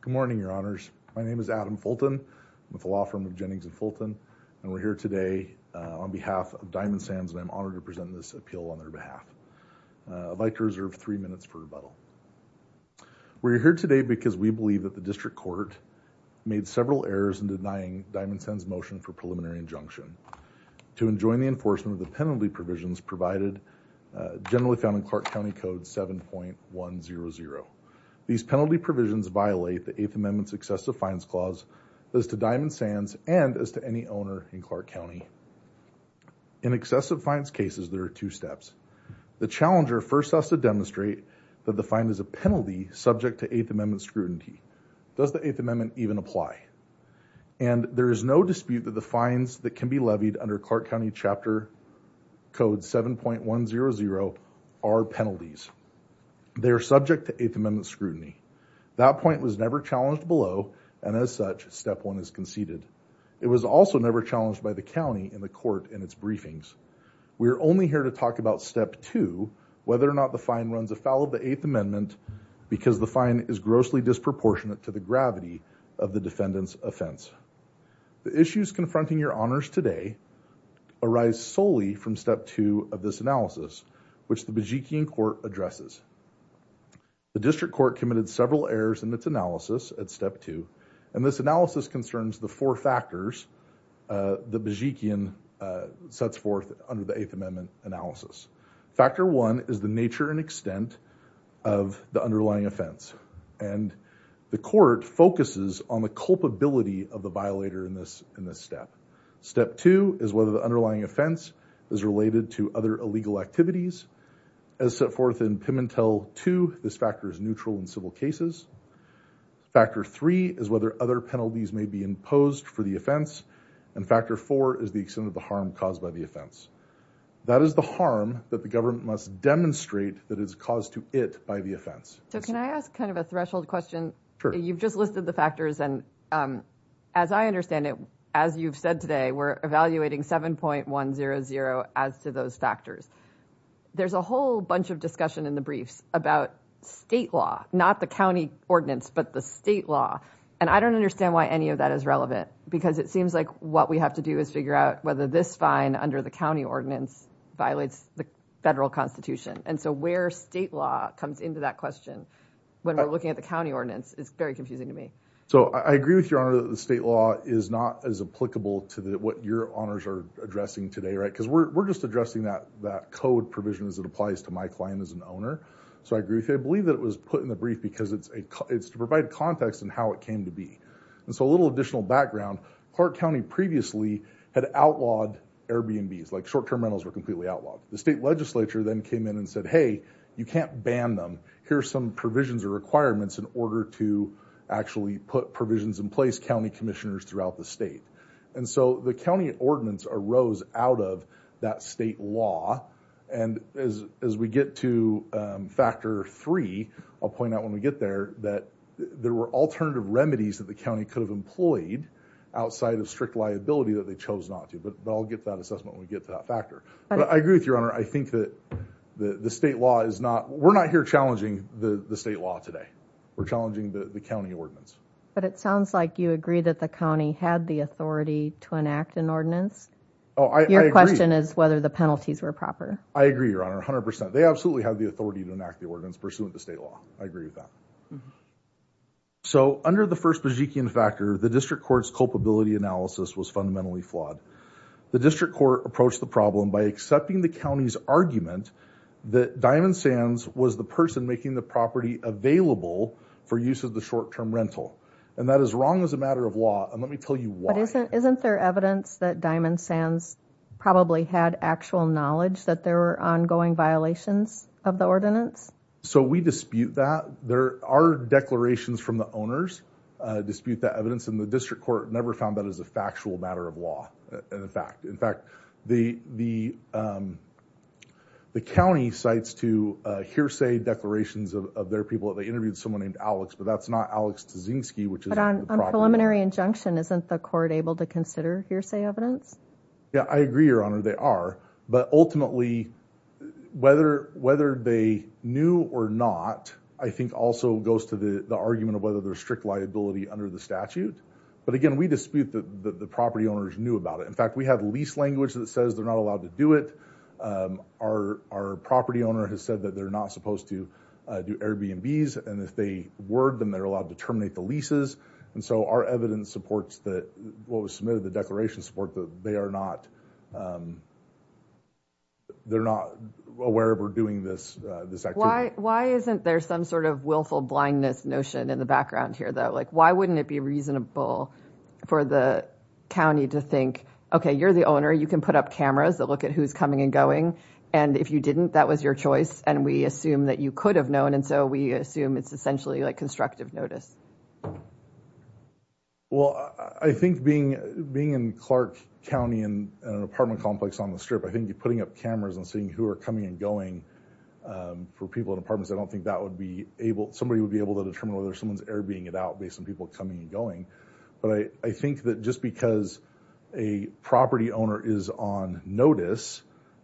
Good morning, your honors. My name is Adam Fulton. I'm with the law firm of Jennings and Fulton, and we're here today on behalf of Diamond Sands, and I'm honored to present this appeal on their behalf. I'd like to reserve three minutes for rebuttal. We're here today because we believe that the district court made several errors in denying Diamond Sands motion for preliminary injunction to enjoin the enforcement of the penalty provisions provided generally found in Clark County Code 7.100. These penalty provisions violate the 8th Amendment's excessive fines clause as to Diamond Sands and as to any owner in Clark County. In excessive fines cases, there are two steps. The challenger first has to demonstrate that the fine is a penalty subject to 8th Amendment scrutiny. Does the 8th Amendment even apply? And there is no dispute that the fines that can be levied under Clark County Chapter Code 7.100 are penalties. They are subject to 8th Amendment scrutiny. That point was never challenged below, and as such, step one is conceded. It was also never challenged by the county in the court in its briefings. We're only here to talk about step two, whether or not the fine runs afoul of the 8th Amendment because the fine is grossly disproportionate to the gravity of the defendant's offense. The issues confronting your honors today arise solely from step two of this analysis, which the Bejikian Court addresses. The district court committed several errors in its analysis at step two, and this analysis concerns the four factors the Bejikian sets forth under the 8th Amendment analysis. Factor one is the nature and extent of the underlying offense, and the court focuses on the culpability of the violator in this step. Step two is whether the underlying offense is related to other illegal activities. As set forth in Pimentel 2, this factor is neutral in civil cases. Factor three is whether other penalties may be imposed for the offense, and factor four is the extent of the harm caused by the offense. That is the harm that the government must demonstrate that is caused to it by the offense. So can I ask kind of a threshold question? Sure. You've just listed the factors, and as I understand it, as you've said today, we're evaluating 7.100 as to those factors. There's a whole bunch of discussion in the briefs about state law, not the county ordinance, but the state law, and I don't understand why any of that is relevant because it seems like what we have to do is figure out whether this fine under the county ordinance violates the federal constitution, and so where state law comes into that question when we're looking at the county ordinance is very confusing to me. So I agree with your honor that the state law is not as applicable to what your honors are addressing today, right, because we're just addressing that code provision as it applies to my client as an owner, so I agree with you. I believe that it was put in the brief because it's to provide context in how it came to be, and so a little additional background. Clark County previously had outlawed Airbnbs, like short-term rentals were completely outlawed. The state legislature then came in and said, hey, you can't ban them. Here's some provisions or requirements in order to actually put provisions in place, county commissioners throughout the state, and so the county ordinance arose out of that state law, and as we get to factor three, I'll point out when we get there that there were alternative remedies that the county could have employed outside of strict liability that they chose not to, but I'll get that assessment when we get to that factor. But I agree with your honor, I think that the state law is not, we're not here challenging the state law today. We're challenging the county ordinance. But it sounds like you agree that the county had the authority to enact an ordinance. Oh, I agree. Your question is whether the penalties were proper. I agree, your honor, 100%. They absolutely have the authority to enact the ordinance pursuant to state law. I agree with that. So under the first Bajikian factor, the district court's culpability analysis was fundamentally flawed. The district court approached the problem by accepting the county's argument that Diamond Sands was the person making the property available for use of the short-term rental, and that is wrong as a matter of law, and let me tell you why. Isn't there evidence that Diamond Sands probably had actual knowledge that there were ongoing violations of the ordinance? So we dispute that. There are declarations from the owners dispute that evidence, and the district court never found that as a factual matter of law, and a fact. In fact, the county cites to hearsay declarations of their people that they interviewed someone named Alex, but that's not Alex Dzinski, which is the problem. But on preliminary injunction, isn't the court able to consider hearsay evidence? Yeah, I agree, your honor, they are. But ultimately, whether they knew or not, I think also goes to the argument of whether there's strict liability under the statute. But again, we dispute that the property owners knew about it. In fact, we have lease language that says they're not allowed to do it. Our property owner has said that they're not supposed to do Airbnb's, and if they were, then they're allowed to terminate the leases, and so our evidence supports that what was submitted, the declaration support that they are not aware of or doing this. Why isn't there some sort of willful blindness notion in the background here, though? Like, why wouldn't it be reasonable for the county to think, okay, you're the owner, you can put up cameras that look at who's coming and going. And if you didn't, that was your choice. And we assume that you could have known. And so we assume it's essentially like constructive notice. Well, I think being being in Clark County and an apartment complex on the strip, I think you're putting up cameras and seeing who are coming and going for people in apartments, I don't think that would be able, somebody would be able to determine whether someone's Airbnbing it out based on people coming and going. But I think that just because a property owner is on notice,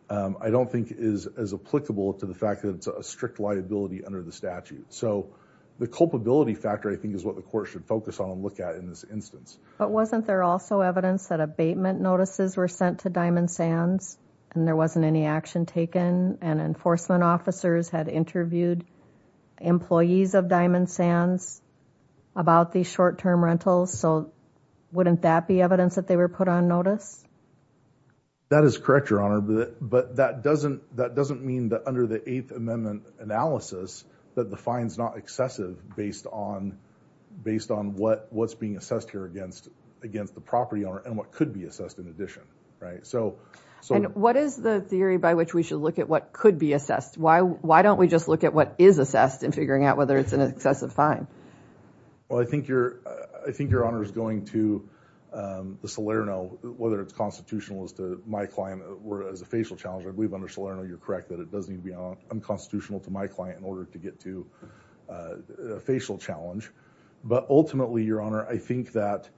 I don't think is as applicable to the fact that it's a strict liability under the statute. So the culpability factor, I think, is what the court should focus on and look at in this instance. But wasn't there also evidence that abatement notices were sent to Diamond Sands? And there wasn't any action taken and enforcement officers had interviewed employees of Diamond Sands about the short-term rentals. So wouldn't that be evidence that they were put on notice? That is correct, Your Honor. But that doesn't mean that under the Eighth Amendment analysis, that the fine's not excessive based on what's being assessed here against the property owner and what could be assessed in addition, right? And what is the theory by which we should look at what could be assessed? Why don't we just look at what is assessed and figuring out whether it's an excessive fine? Well, I think Your Honor is going to the Salerno, whether it's constitutional as to my client or as a facial challenge. I believe under Salerno, you're correct that it does need to be unconstitutional to my client in order to get to a facial challenge. But ultimately, Your Honor, I think that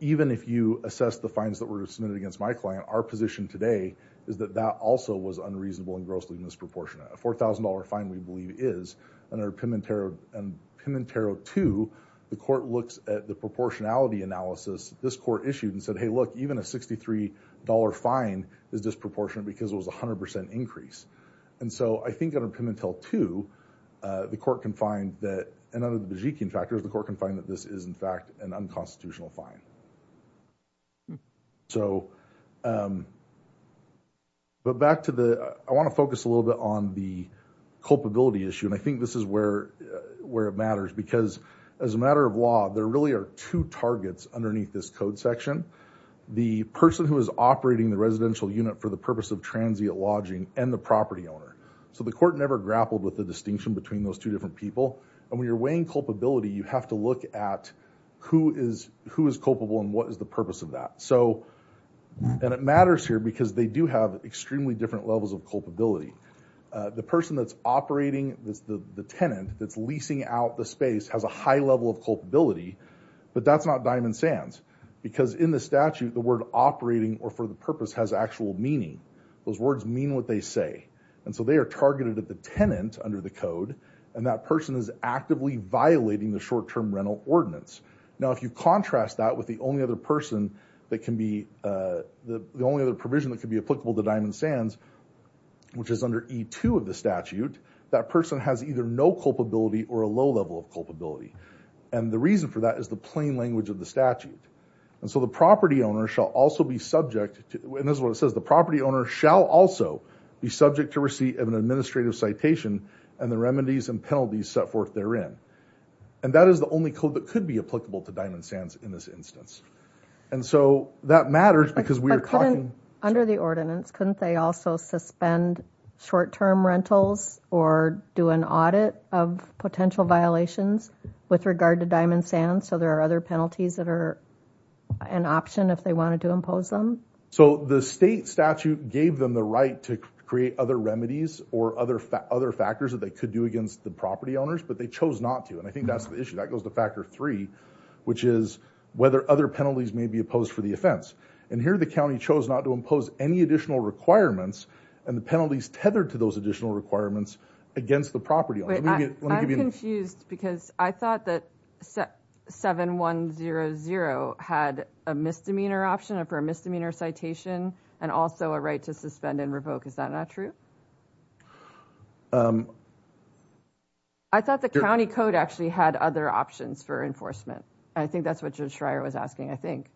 even if you assess the fines that were submitted against my client, our position today is that that also was unreasonable and grossly disproportionate. A $4,000 fine, we believe, is. And under Pimentel 2, the court looks at the proportionality analysis this court issued and said, hey, look, even a $63 fine is disproportionate because it was a 100% increase. And so I think under Pimentel 2, the court can find that, and under the Bajikian factors, the court can find that this is, in fact, an unconstitutional fine. But back to the, I want to focus a little bit on the culpability issue. And I think this is where it matters, because as a matter of law, there really are two targets underneath this code section. The person who is operating the residential unit for the purpose of transient lodging and the property owner. So the court never grappled with the distinction between those two different people. And when you're weighing culpability, you have to look at who is culpable and what is the purpose of that. So, and it matters here because they do have extremely different levels of culpability. The person that's operating the tenant that's leasing out the space has a high level of culpability, but that's not diamond sands. Because in the statute, the word operating or for the purpose has actual meaning. Those words mean what they say. And so they are targeted at the tenant under the code. And that person is actively violating the short-term rental ordinance. Now, if you contrast that with the only other person that can be, the only other provision that could be applicable to diamond sands, which is under E2 of the statute, that person has either no culpability or a low level of culpability. And the reason for that is the plain language of the statute. And so the property owner shall also be subject to, and this is what it says, and the remedies and penalties set forth therein. And that is the only code that could be applicable to diamond sands in this instance. And so that matters because we are talking- Under the ordinance, couldn't they also suspend short-term rentals or do an audit of potential violations with regard to diamond sands? So there are other penalties that are an option if they wanted to impose them? So the state statute gave them the right to create other remedies or other factors that they could do against the property owners, but they chose not to. And I think that's the issue. That goes to factor three, which is whether other penalties may be opposed for the offense. And here the county chose not to impose any additional requirements and the penalties tethered to those additional requirements against the property owner. Let me give you- Wait, I'm confused because I thought that 7100 had a misdemeanor option for a misdemeanor citation and also a right to suspend and revoke is that not true? I thought the county code actually had other options for enforcement. I think that's what Judge Schreier was asking, I think.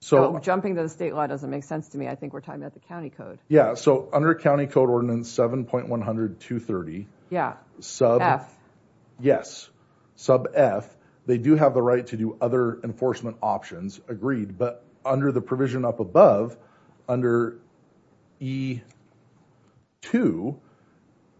So jumping to the state law doesn't make sense to me. I think we're talking about the county code. Yeah, so under county code ordinance 7.100.230- Yeah, F. Yes, sub F, they do have the right to do other enforcement options, agreed, but under the provision up above, under E.2,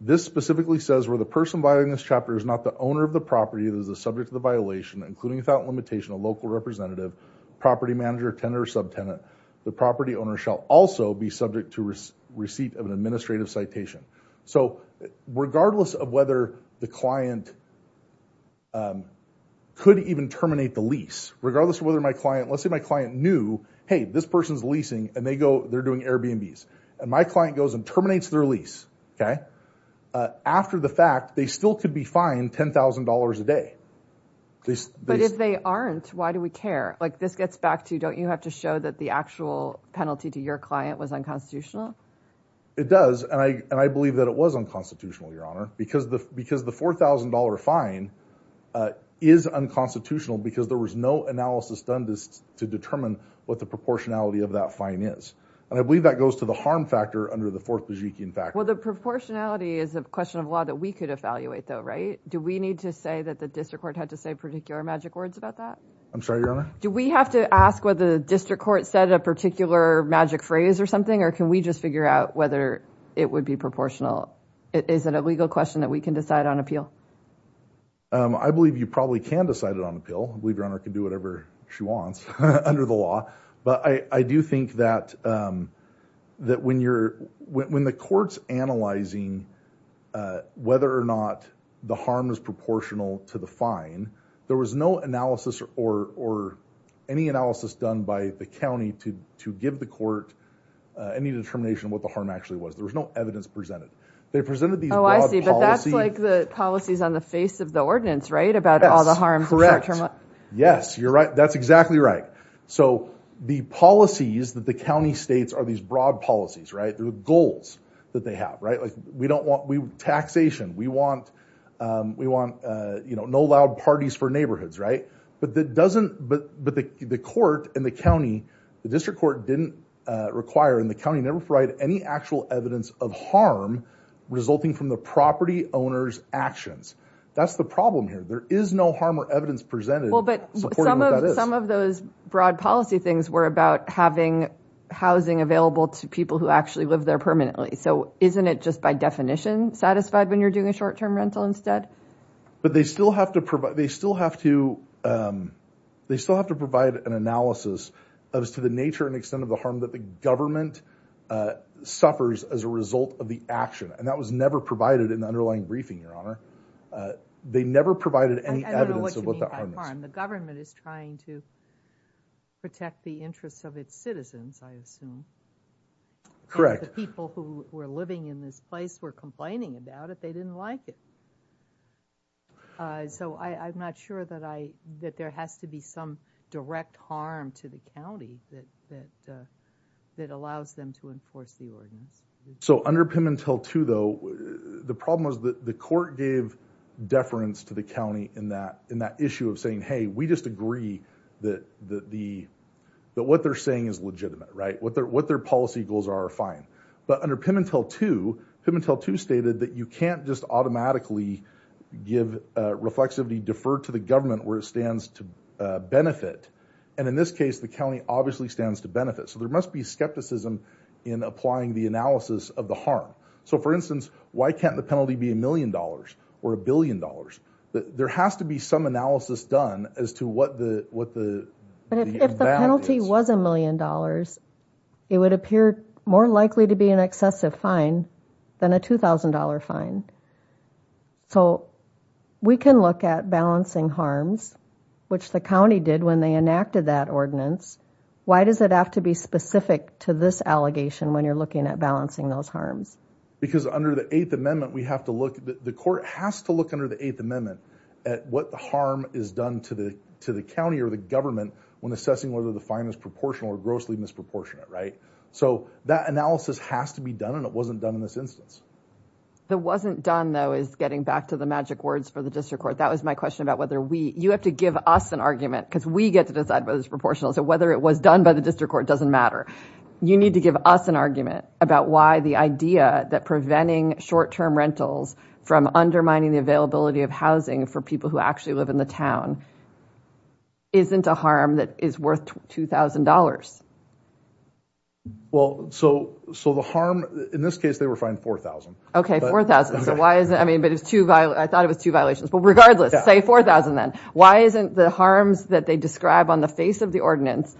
this specifically says where the person violating this chapter is not the owner of the property that is the subject of the violation, including without limitation a local representative, property manager, tenant or subtenant, the property owner shall also be subject to receipt of an administrative citation. So regardless of whether the client could even terminate the lease, regardless of whether my client- Let's say my client knew, hey, this person's leasing and they go, they're doing Airbnbs, and my client goes and terminates their lease, okay? After the fact, they still could be fined $10,000 a day. But if they aren't, why do we care? Like this gets back to, don't you have to show that the actual penalty to your client was unconstitutional? It does, and I believe that it was unconstitutional, Your Honor, because the $4,000 fine is unconstitutional because there was no analysis done just to determine what the proportionality of that fine is, and I believe that goes to the harm factor under the fourth Lejikian factor. Well, the proportionality is a question of law that we could evaluate, though, right? Do we need to say that the district court had to say particular magic words about that? I'm sorry, Your Honor? Do we have to ask whether the district court said a particular magic phrase or something, or can we just figure out whether it would be proportional? Is it a legal question that we can decide on appeal? I believe you probably can decide it on appeal. I believe Your Honor can do whatever she wants under the law, but I do think that when the court's analyzing whether or not the harm is proportional to the fine, there was no analysis or any analysis done by the county to give the court any determination of what the harm actually was. There was no policy. But that's like the policies on the face of the ordinance, right? About all the harms of short term. Yes, you're right. That's exactly right. So the policies that the county states are these broad policies, right? They're the goals that they have, right? Like we don't want taxation. We want no loud parties for neighborhoods, right? But the court and the county, the district court didn't require, and the county never provided any actual evidence of harm resulting from the property owner's actions. That's the problem here. There is no harm or evidence presented. Well, but some of those broad policy things were about having housing available to people who actually live there permanently. So isn't it just by definition satisfied when you're doing a short term rental instead? But they still have to provide an analysis to the nature and extent of the harm that the government suffers as a result of the action. And that was never provided in the underlying briefing, Your Honor. They never provided any evidence of what the harm is. I don't know what you mean by harm. The government is trying to protect the interests of its citizens, I assume. Correct. And the people who were living in this place were complaining about it. They didn't like it. So I'm not sure that there has to be some direct harm to the county that allows them to enforce the ordinance. So under Pimintel 2, though, the problem was that the court gave deference to the county in that issue of saying, hey, we just agree that what they're saying is legitimate, right? What their policy goals are are fine. But under Pimintel 2, Pimintel 2 stated that you can't just automatically give reflexively defer to the government where it stands to benefit. And in this case, the county obviously stands to benefit. So there must be skepticism in applying the analysis of the harm. So for instance, why can't the penalty be a million dollars or a billion dollars? There has to be some analysis done as to what the what the. But if the penalty was a million dollars, it would appear more likely to be an excessive fine than a $2,000 fine. So we can look at balancing harms, which the county did when they enacted that ordinance. Why does it have to be specific to this allegation when you're looking at balancing those harms? Because under the 8th Amendment, we have to look at the court has to look under the 8th Amendment at what the harm is done to the to the county or the government when assessing whether the fine is proportional or grossly disproportionate. Right. So that analysis has to be done. And it for the district court. That was my question about whether we you have to give us an argument because we get to decide whether it's proportional. So whether it was done by the district court doesn't matter. You need to give us an argument about why the idea that preventing short term rentals from undermining the availability of housing for people who actually live in the town isn't a harm that is worth two thousand dollars. Well, so so the harm in this case, they were fined four thousand. OK, four thousand. So why is that? I mean, but it's too I thought it was two violations. But regardless, say four thousand, then why isn't the harms that they describe on the face of the ordinance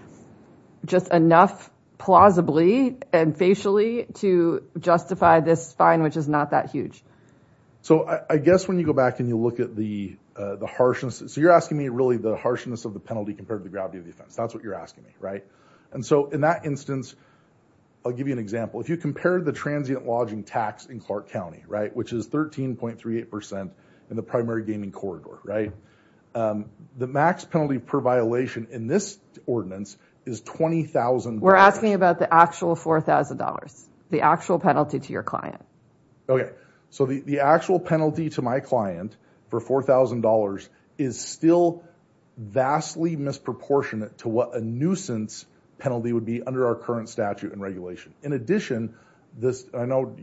just enough plausibly and facially to justify this fine, which is not that huge? So I guess when you go back and you look at the the harshness, so you're asking me really the harshness of the penalty compared to the gravity of the offense. That's what you're asking me. Right. And so in that instance, I'll give you an example. If you compare the transient lodging tax in Clark County, right, which is 13.38 percent in the primary gaming corridor. Right. The max penalty per violation in this ordinance is twenty thousand. We're asking about the actual four thousand dollars, the actual penalty to your client. OK, so the actual penalty to my client for four thousand dollars is still vastly misproportionate to what a nuisance penalty would be under our current statute and regulation. In addition, this I know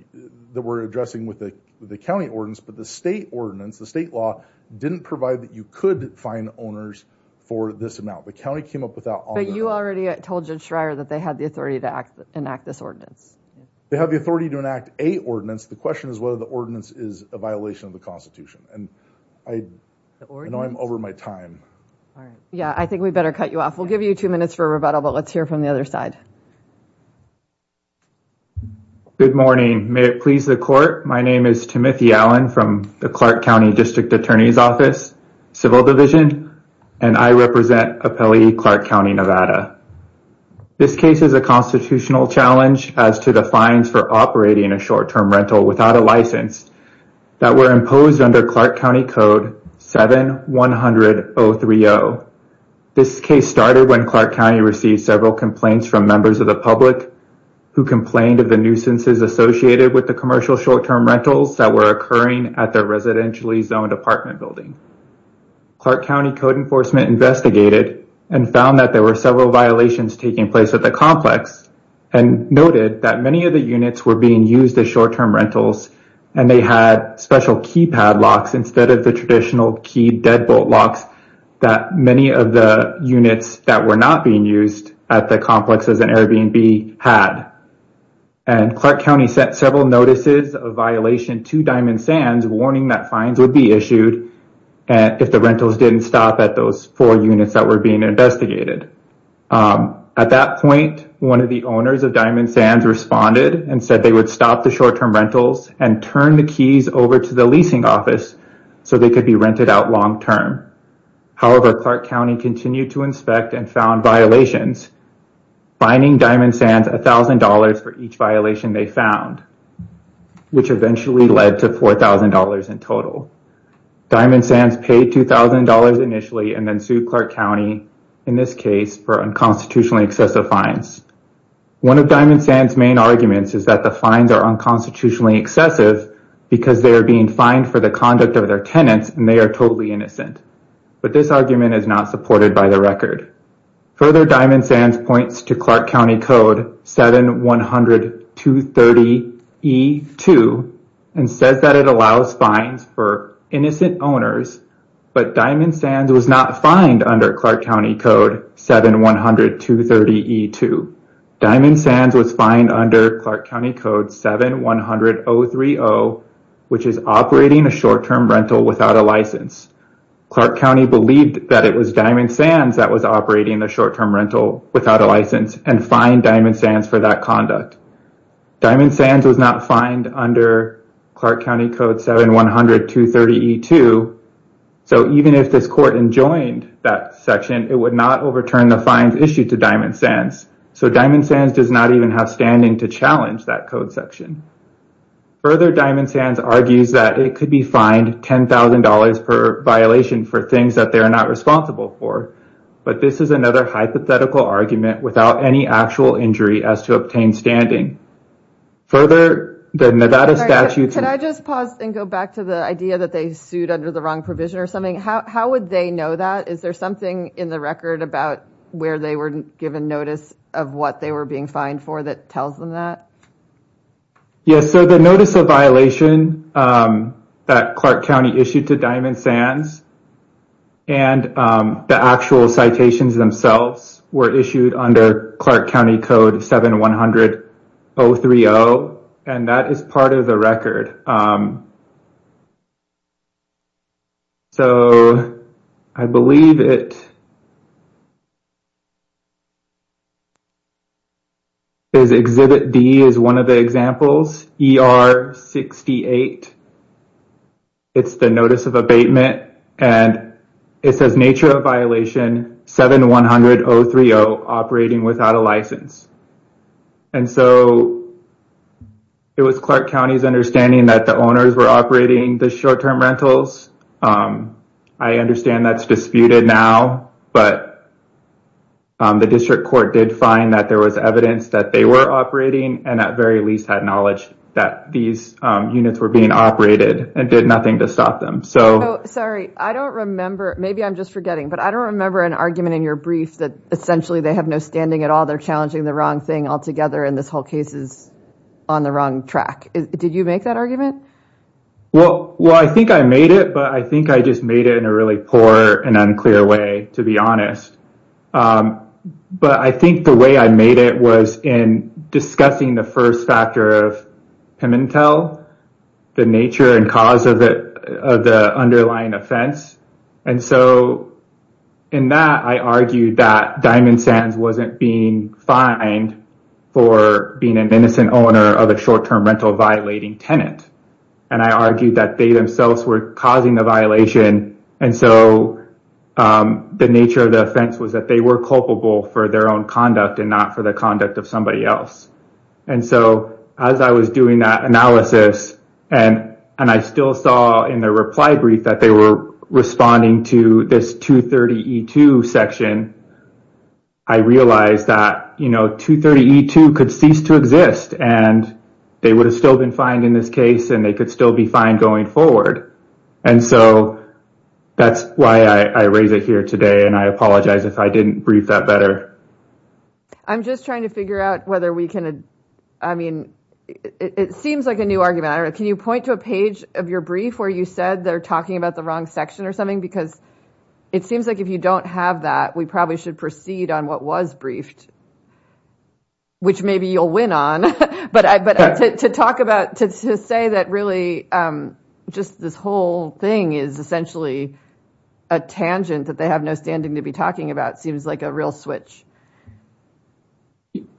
that we're addressing with the county ordinance, but the state ordinance, the state law didn't provide that you could find owners for this amount. The county came up with that. But you already told Judd Schreier that they had the authority to enact this ordinance. They have the authority to enact a ordinance. The question is whether the ordinance is a violation of the Constitution. And I know I'm over my time. Yeah, I think we better cut you off. We'll give you two minutes for a rebuttal, let's hear from the other side. Good morning. May it please the court. My name is Timothy Allen from the Clark County District Attorney's Office, Civil Division, and I represent appellee Clark County, Nevada. This case is a constitutional challenge as to the fines for operating a short term rental without a license that were imposed under Clark County Code 7-100-030. This case started when Clark County received several complaints from members of the public who complained of the nuisances associated with the commercial short term rentals that were occurring at the residentially zoned apartment building. Clark County Code enforcement investigated and found that there were several violations taking place at the complex and noted that many of the units were being used as short term rentals and they had special keypad locks instead of the traditional key deadbolt locks that many of the units that were not being used at the complexes and Airbnb had. And Clark County sent several notices of violation to Diamond Sands warning that fines would be issued and if the rentals didn't stop at those four units that were being investigated. At that point, one of the owners of Diamond Sands responded and said they would stop the short term rentals and turn the keys over to the leasing office so they could be rented out long term. However, Clark County continued to inspect and found violations fining Diamond Sands a thousand dollars for each violation they found which eventually led to four thousand dollars in total. Diamond Sands paid two thousand dollars initially and then sued Clark County in this case for unconstitutionally excessive fines. One of Diamond Sands main arguments is that the fines are unconstitutionally excessive because they are being fined for the conduct of their tenants and they are totally innocent. But this argument is not supported by the record. Further, Diamond Sands points to Clark County Code 7-100-230-E-2 and says that it allows fines for innocent owners but Diamond Sands was not under Clark County Code 7-100-230-E-2. Diamond Sands was fined under Clark County Code 7-100-030 which is operating a short term rental without a license. Clark County believed that it was Diamond Sands that was operating the short term rental without a license and fined Diamond Sands for that conduct. Diamond Sands was not fined under Clark County Code 7-100-230-E-2 so even if this court enjoined that section it would not overturn the fines issued to Diamond Sands. So Diamond Sands does not even have standing to challenge that code section. Further, Diamond Sands argues that it could be fined ten thousand dollars per violation for things that they are not responsible for but this is another hypothetical argument without any actual injury as to obtain standing. Further, the Nevada statute... Can I just pause and go back to the idea that they sued under the wrong provision or something? How would they know that? Is there something in the record about where they were given notice of what they were being fined for that tells them that? Yes, so the notice of violation that Clark County issued to Diamond Sands and the actual citations themselves were issued under Clark County Code 7-100-030 and that is part of the record. So I believe it is Exhibit D is one of the examples ER 68. It's the notice of abatement and it says nature of violation 7-100-030 operating without a license. And so it was Clark County's understanding that owners were operating the short-term rentals. I understand that's disputed now but the district court did find that there was evidence that they were operating and at very least had knowledge that these units were being operated and did nothing to stop them. So sorry, I don't remember, maybe I'm just forgetting, but I don't remember an argument in your brief that essentially they have no standing at all. They're challenging the wrong thing altogether and this whole case is on the wrong track. Did you make that argument? Well, I think I made it but I think I just made it in a really poor and unclear way to be honest. But I think the way I made it was in discussing the first factor of Pimentel, the nature and cause of the underlying offense. And so in that I argued that Diamond Sands wasn't being fined for being an innocent owner of a short-term rental violating tenant. And I argued that they themselves were causing the violation and so the nature of the offense was that they were culpable for their own conduct and not for the conduct of somebody else. And so as I was doing that analysis and I still saw in the reply brief that they were responding to this 230E2 section, I realized that, you know, 230E2 could cease to exist and they would have still been fined in this case and they could still be fined going forward. And so that's why I raise it here today and I apologize if I didn't brief that better. I'm just trying to figure out whether we can, I mean, it seems like a new argument. Can you a page of your brief where you said they're talking about the wrong section or something? Because it seems like if you don't have that, we probably should proceed on what was briefed, which maybe you'll win on. But to talk about, to say that really just this whole thing is essentially a tangent that they have no standing to be talking about seems like a real switch.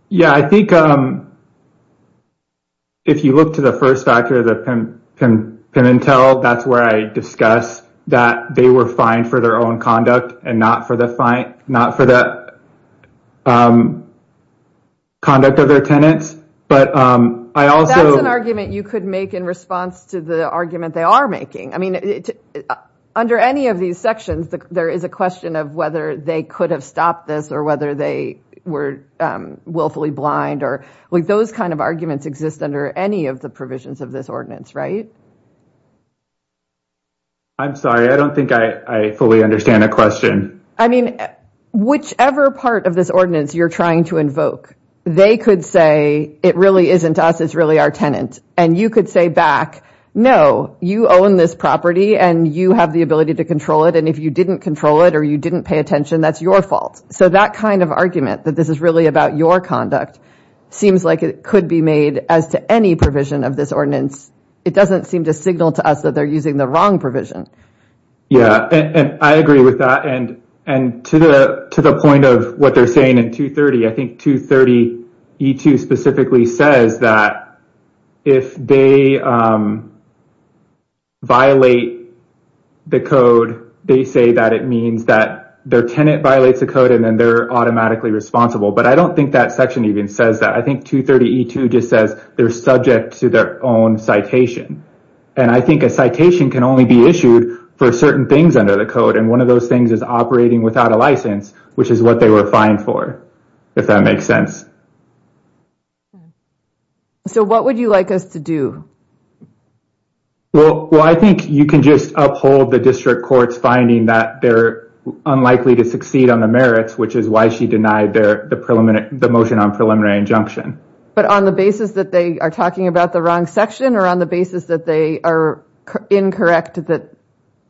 Yeah, I think if you look to the first factor, the Pimintel, that's where I discuss that they were fined for their own conduct and not for the conduct of their tenants. But I also- That's an argument you could make in response to the argument they are making. I mean, under any of these sections, there is a question of whether they could have stopped this or whether they were willfully blind. Those kind of arguments exist under any of the provisions of this ordinance, right? I'm sorry, I don't think I fully understand the question. I mean, whichever part of this ordinance you're trying to invoke, they could say, it really isn't us, it's really our tenant. And you could say back, no, you own this property and you have the ability to control it. And if you didn't control it or you didn't pay attention, that's your fault. So that kind of argument that this is really about your conduct seems like it could be made as to any provision of this ordinance. It doesn't seem to signal to us that they're using the wrong provision. Yeah, and I agree with that. And to the point of what they're saying in 230, I think 230E2 specifically says that if they violate the code, they say that it that their tenant violates the code and then they're automatically responsible. But I don't think that section even says that. I think 230E2 just says they're subject to their own citation. And I think a citation can only be issued for certain things under the code. And one of those things is operating without a license, which is what they were fined for, if that makes sense. So what would you like us to do? Well, I think you can just uphold the district court's finding that they're unlikely to succeed on the merits, which is why she denied the motion on preliminary injunction. But on the basis that they are talking about the wrong section or on the basis that they are incorrect that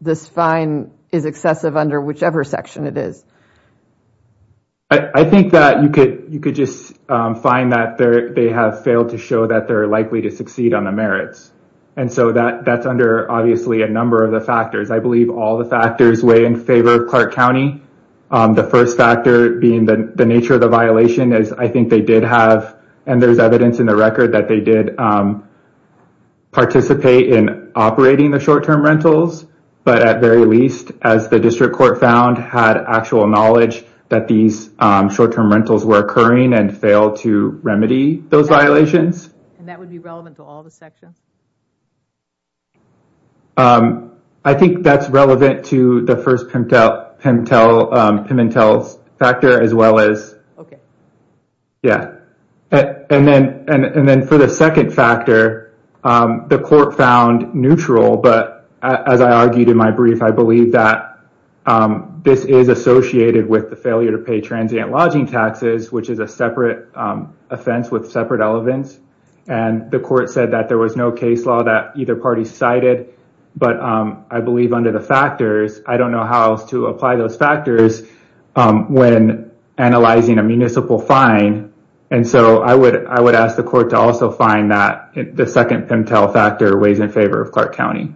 this fine is excessive under whichever section it is? I think that you could just find that they have failed to show that they're likely to And so that's under, obviously, a number of the factors. I believe all the factors weigh in favor of Clark County. The first factor being the nature of the violation is, I think they did have, and there's evidence in the record that they did participate in operating the short-term rentals. But at very least, as the district court found, had actual knowledge that these short-term rentals were occurring and failed to remedy those violations. And that would be relevant to all the sections? I think that's relevant to the first Pimentel factor as well as. Yeah. And then for the second factor, the court found neutral, but as I argued in my brief, I believe that this is associated with the failure to pay transient lodging taxes, which is a separate offense with separate elements. And the court said that there was no case law that either party cited. But I believe under the factors, I don't know how to apply those factors when analyzing a municipal fine. And so I would ask the court to also find that the second Pimentel factor weighs in favor of Clark County.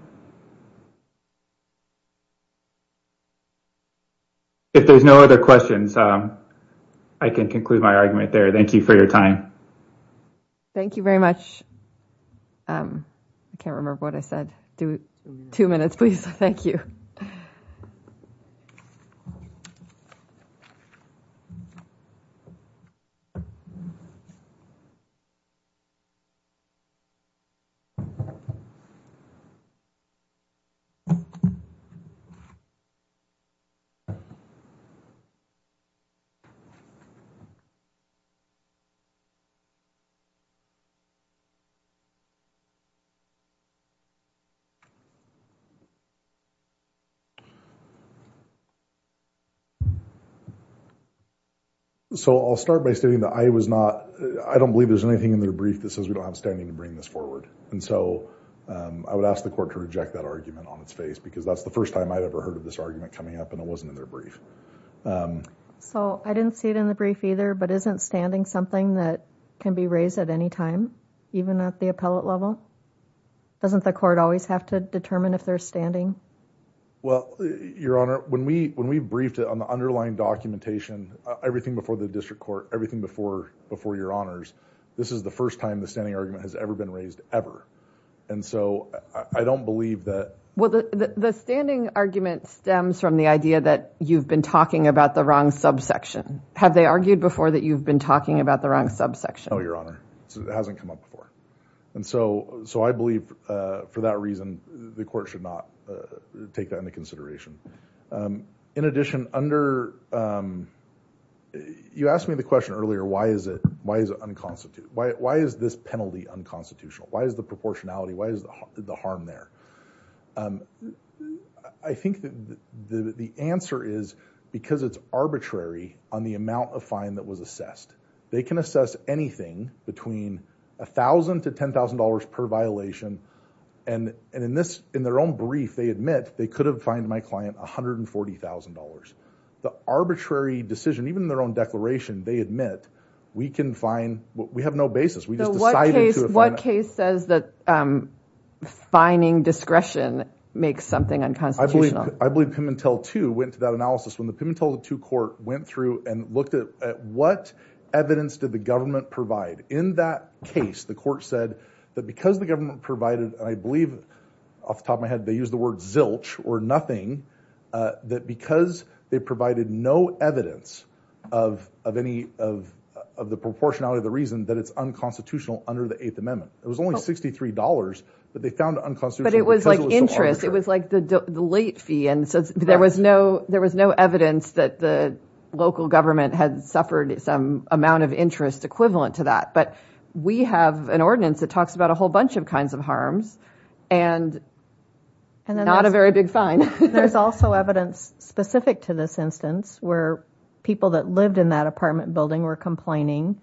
If there's no other questions, I can conclude my argument there. Thank you for your time. Thank you very much. I can't remember what I said. Two minutes, please. Thank you. So I'll start by stating that I was not, I don't believe there's anything in their brief that says we don't have standing to bring this forward. And so I would ask the court to reject that argument on its face because that's the first time I've ever heard of this argument coming up and it wasn't in their brief. So I didn't see it in the brief either, but isn't standing something that can be raised at any time, even at the appellate level? Doesn't the court always have to determine if they're standing? Well, your honor, when we briefed it on the underlying documentation, everything before the district court, everything before your honors, this is the first time the argument has ever been raised ever. And so I don't believe that. Well, the standing argument stems from the idea that you've been talking about the wrong subsection. Have they argued before that you've been talking about the wrong subsection? No, your honor. It hasn't come up before. And so, so I believe for that reason, the court should not take that into consideration. In addition, under, you asked me the question earlier, why is it, why is it unconstituted? Why is this penalty unconstitutional? Why is the proportionality? Why is the harm there? I think that the answer is because it's arbitrary on the amount of fine that was assessed. They can assess anything between a thousand to $10,000 per violation. And, and in this, in their own brief, they admit they could have fined my client $140,000. The arbitrary decision, even in their declaration, they admit we can find, we have no basis. We just decided. What case says that fining discretion makes something unconstitutional? I believe, I believe Pimentel 2 went to that analysis when the Pimentel 2 court went through and looked at what evidence did the government provide? In that case, the court said that because the government provided, and I believe off the top of my head, they use the word zilch or nothing, that because they provided no evidence of any of, of the proportionality of the reason that it's unconstitutional under the Eighth Amendment. It was only $63 that they found unconstitutional. But it was like interest. It was like the late fee. And so there was no, there was no evidence that the local government had suffered some amount of interest equivalent to that. But we have an ordinance that talks about a whole bunch of kinds of harms and not a very big fine. There's also evidence specific to this instance where people that lived in that apartment building were complaining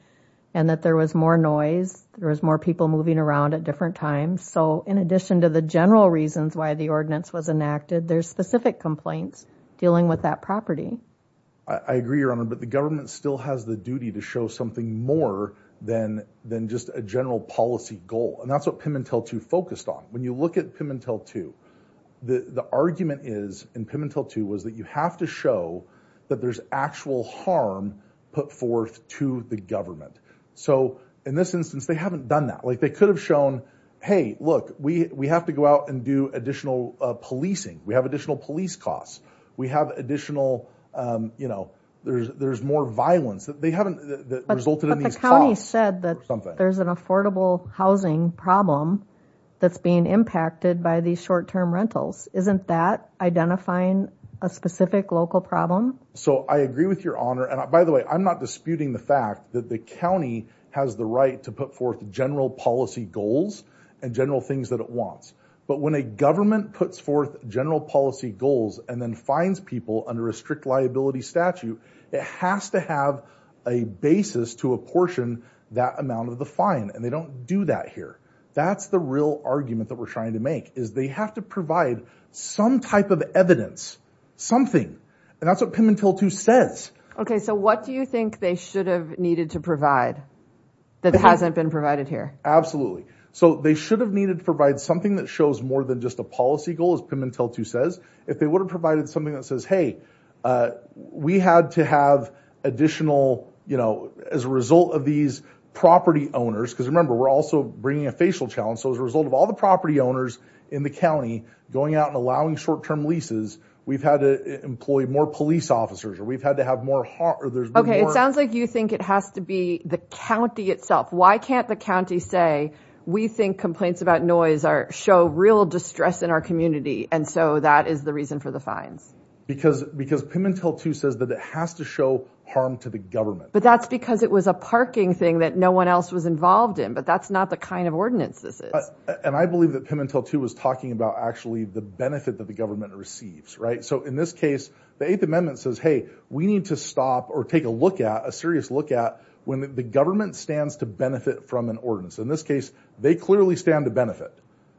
and that there was more noise. There was more people moving around at different times. So in addition to the general reasons why the ordinance was enacted, there's specific complaints dealing with that property. I agree, Your Honor, but the government still has the duty to show something more than, than just a general policy goal. And that's what Pimentel 2 focused on. When you look at Pimentel 2, the, the argument is in Pimentel 2 was that you have to show that there's actual harm put forth to the government. So in this instance, they haven't done that. Like they could have shown, Hey, look, we, we have to go out and do additional policing. We have additional police costs. We have additional you know, there's, there's more violence that they haven't resulted in these costs. But the county said that there's an affordable housing problem that's being impacted by these short-term rentals. Isn't that identifying a specific local problem? So I agree with Your Honor. And by the way, I'm not disputing the fact that the county has the right to put forth general policy goals and general things that it wants. But when a government puts forth general policy goals and then fines people under a strict liability statute, it has to have a basis to apportion that amount of the fine. And they don't do that here. That's real argument that we're trying to make is they have to provide some type of evidence, something, and that's what Pimentel 2 says. Okay. So what do you think they should have needed to provide that hasn't been provided here? Absolutely. So they should have needed to provide something that shows more than just a policy goal as Pimentel 2 says, if they would have provided something that says, Hey, uh, we had to have additional, you know, as a result of these property owners. Cause remember, we're also bringing a facial challenge. So as a result of all the property owners in the county going out and allowing short-term leases, we've had to employ more police officers, or we've had to have more heart or there's more. Okay. It sounds like you think it has to be the county itself. Why can't the county say, we think complaints about noise are show real distress in our community. And so that is the reason for the fines. Because, because Pimentel 2 says that it has to show harm to the government. But that's because it was a parking thing that no one else was involved in, but that's not the kind of ordinance this is. And I believe that Pimentel 2 was talking about actually the benefit that the government receives, right? So in this case, the eighth amendment says, Hey, we need to stop or take a look at a serious look at when the government stands to benefit from an ordinance. In this case, they clearly stand to benefit.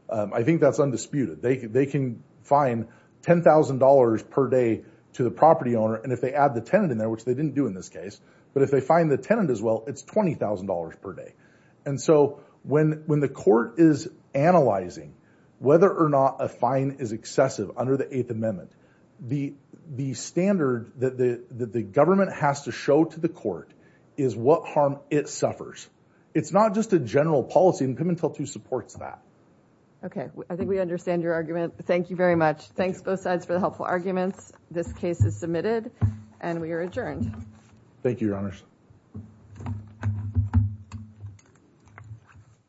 Um, I think that's undisputed. They can, they can fine $10,000 per day to the property owner. And if they add the tenant in there, which they didn't do in this case, but if they find the tenant as well, it's $20,000 per day. And so when, when the court is analyzing whether or not a fine is excessive under the eighth amendment, the, the standard that the, that the government has to show to the court is what harm it suffers. It's not just a general policy and Pimentel 2 supports that. Okay. I think we understand your argument. Thank you very much. Thanks both sides for the helpful arguments. This case is submitted and we are adjourned. Thank you, your honors.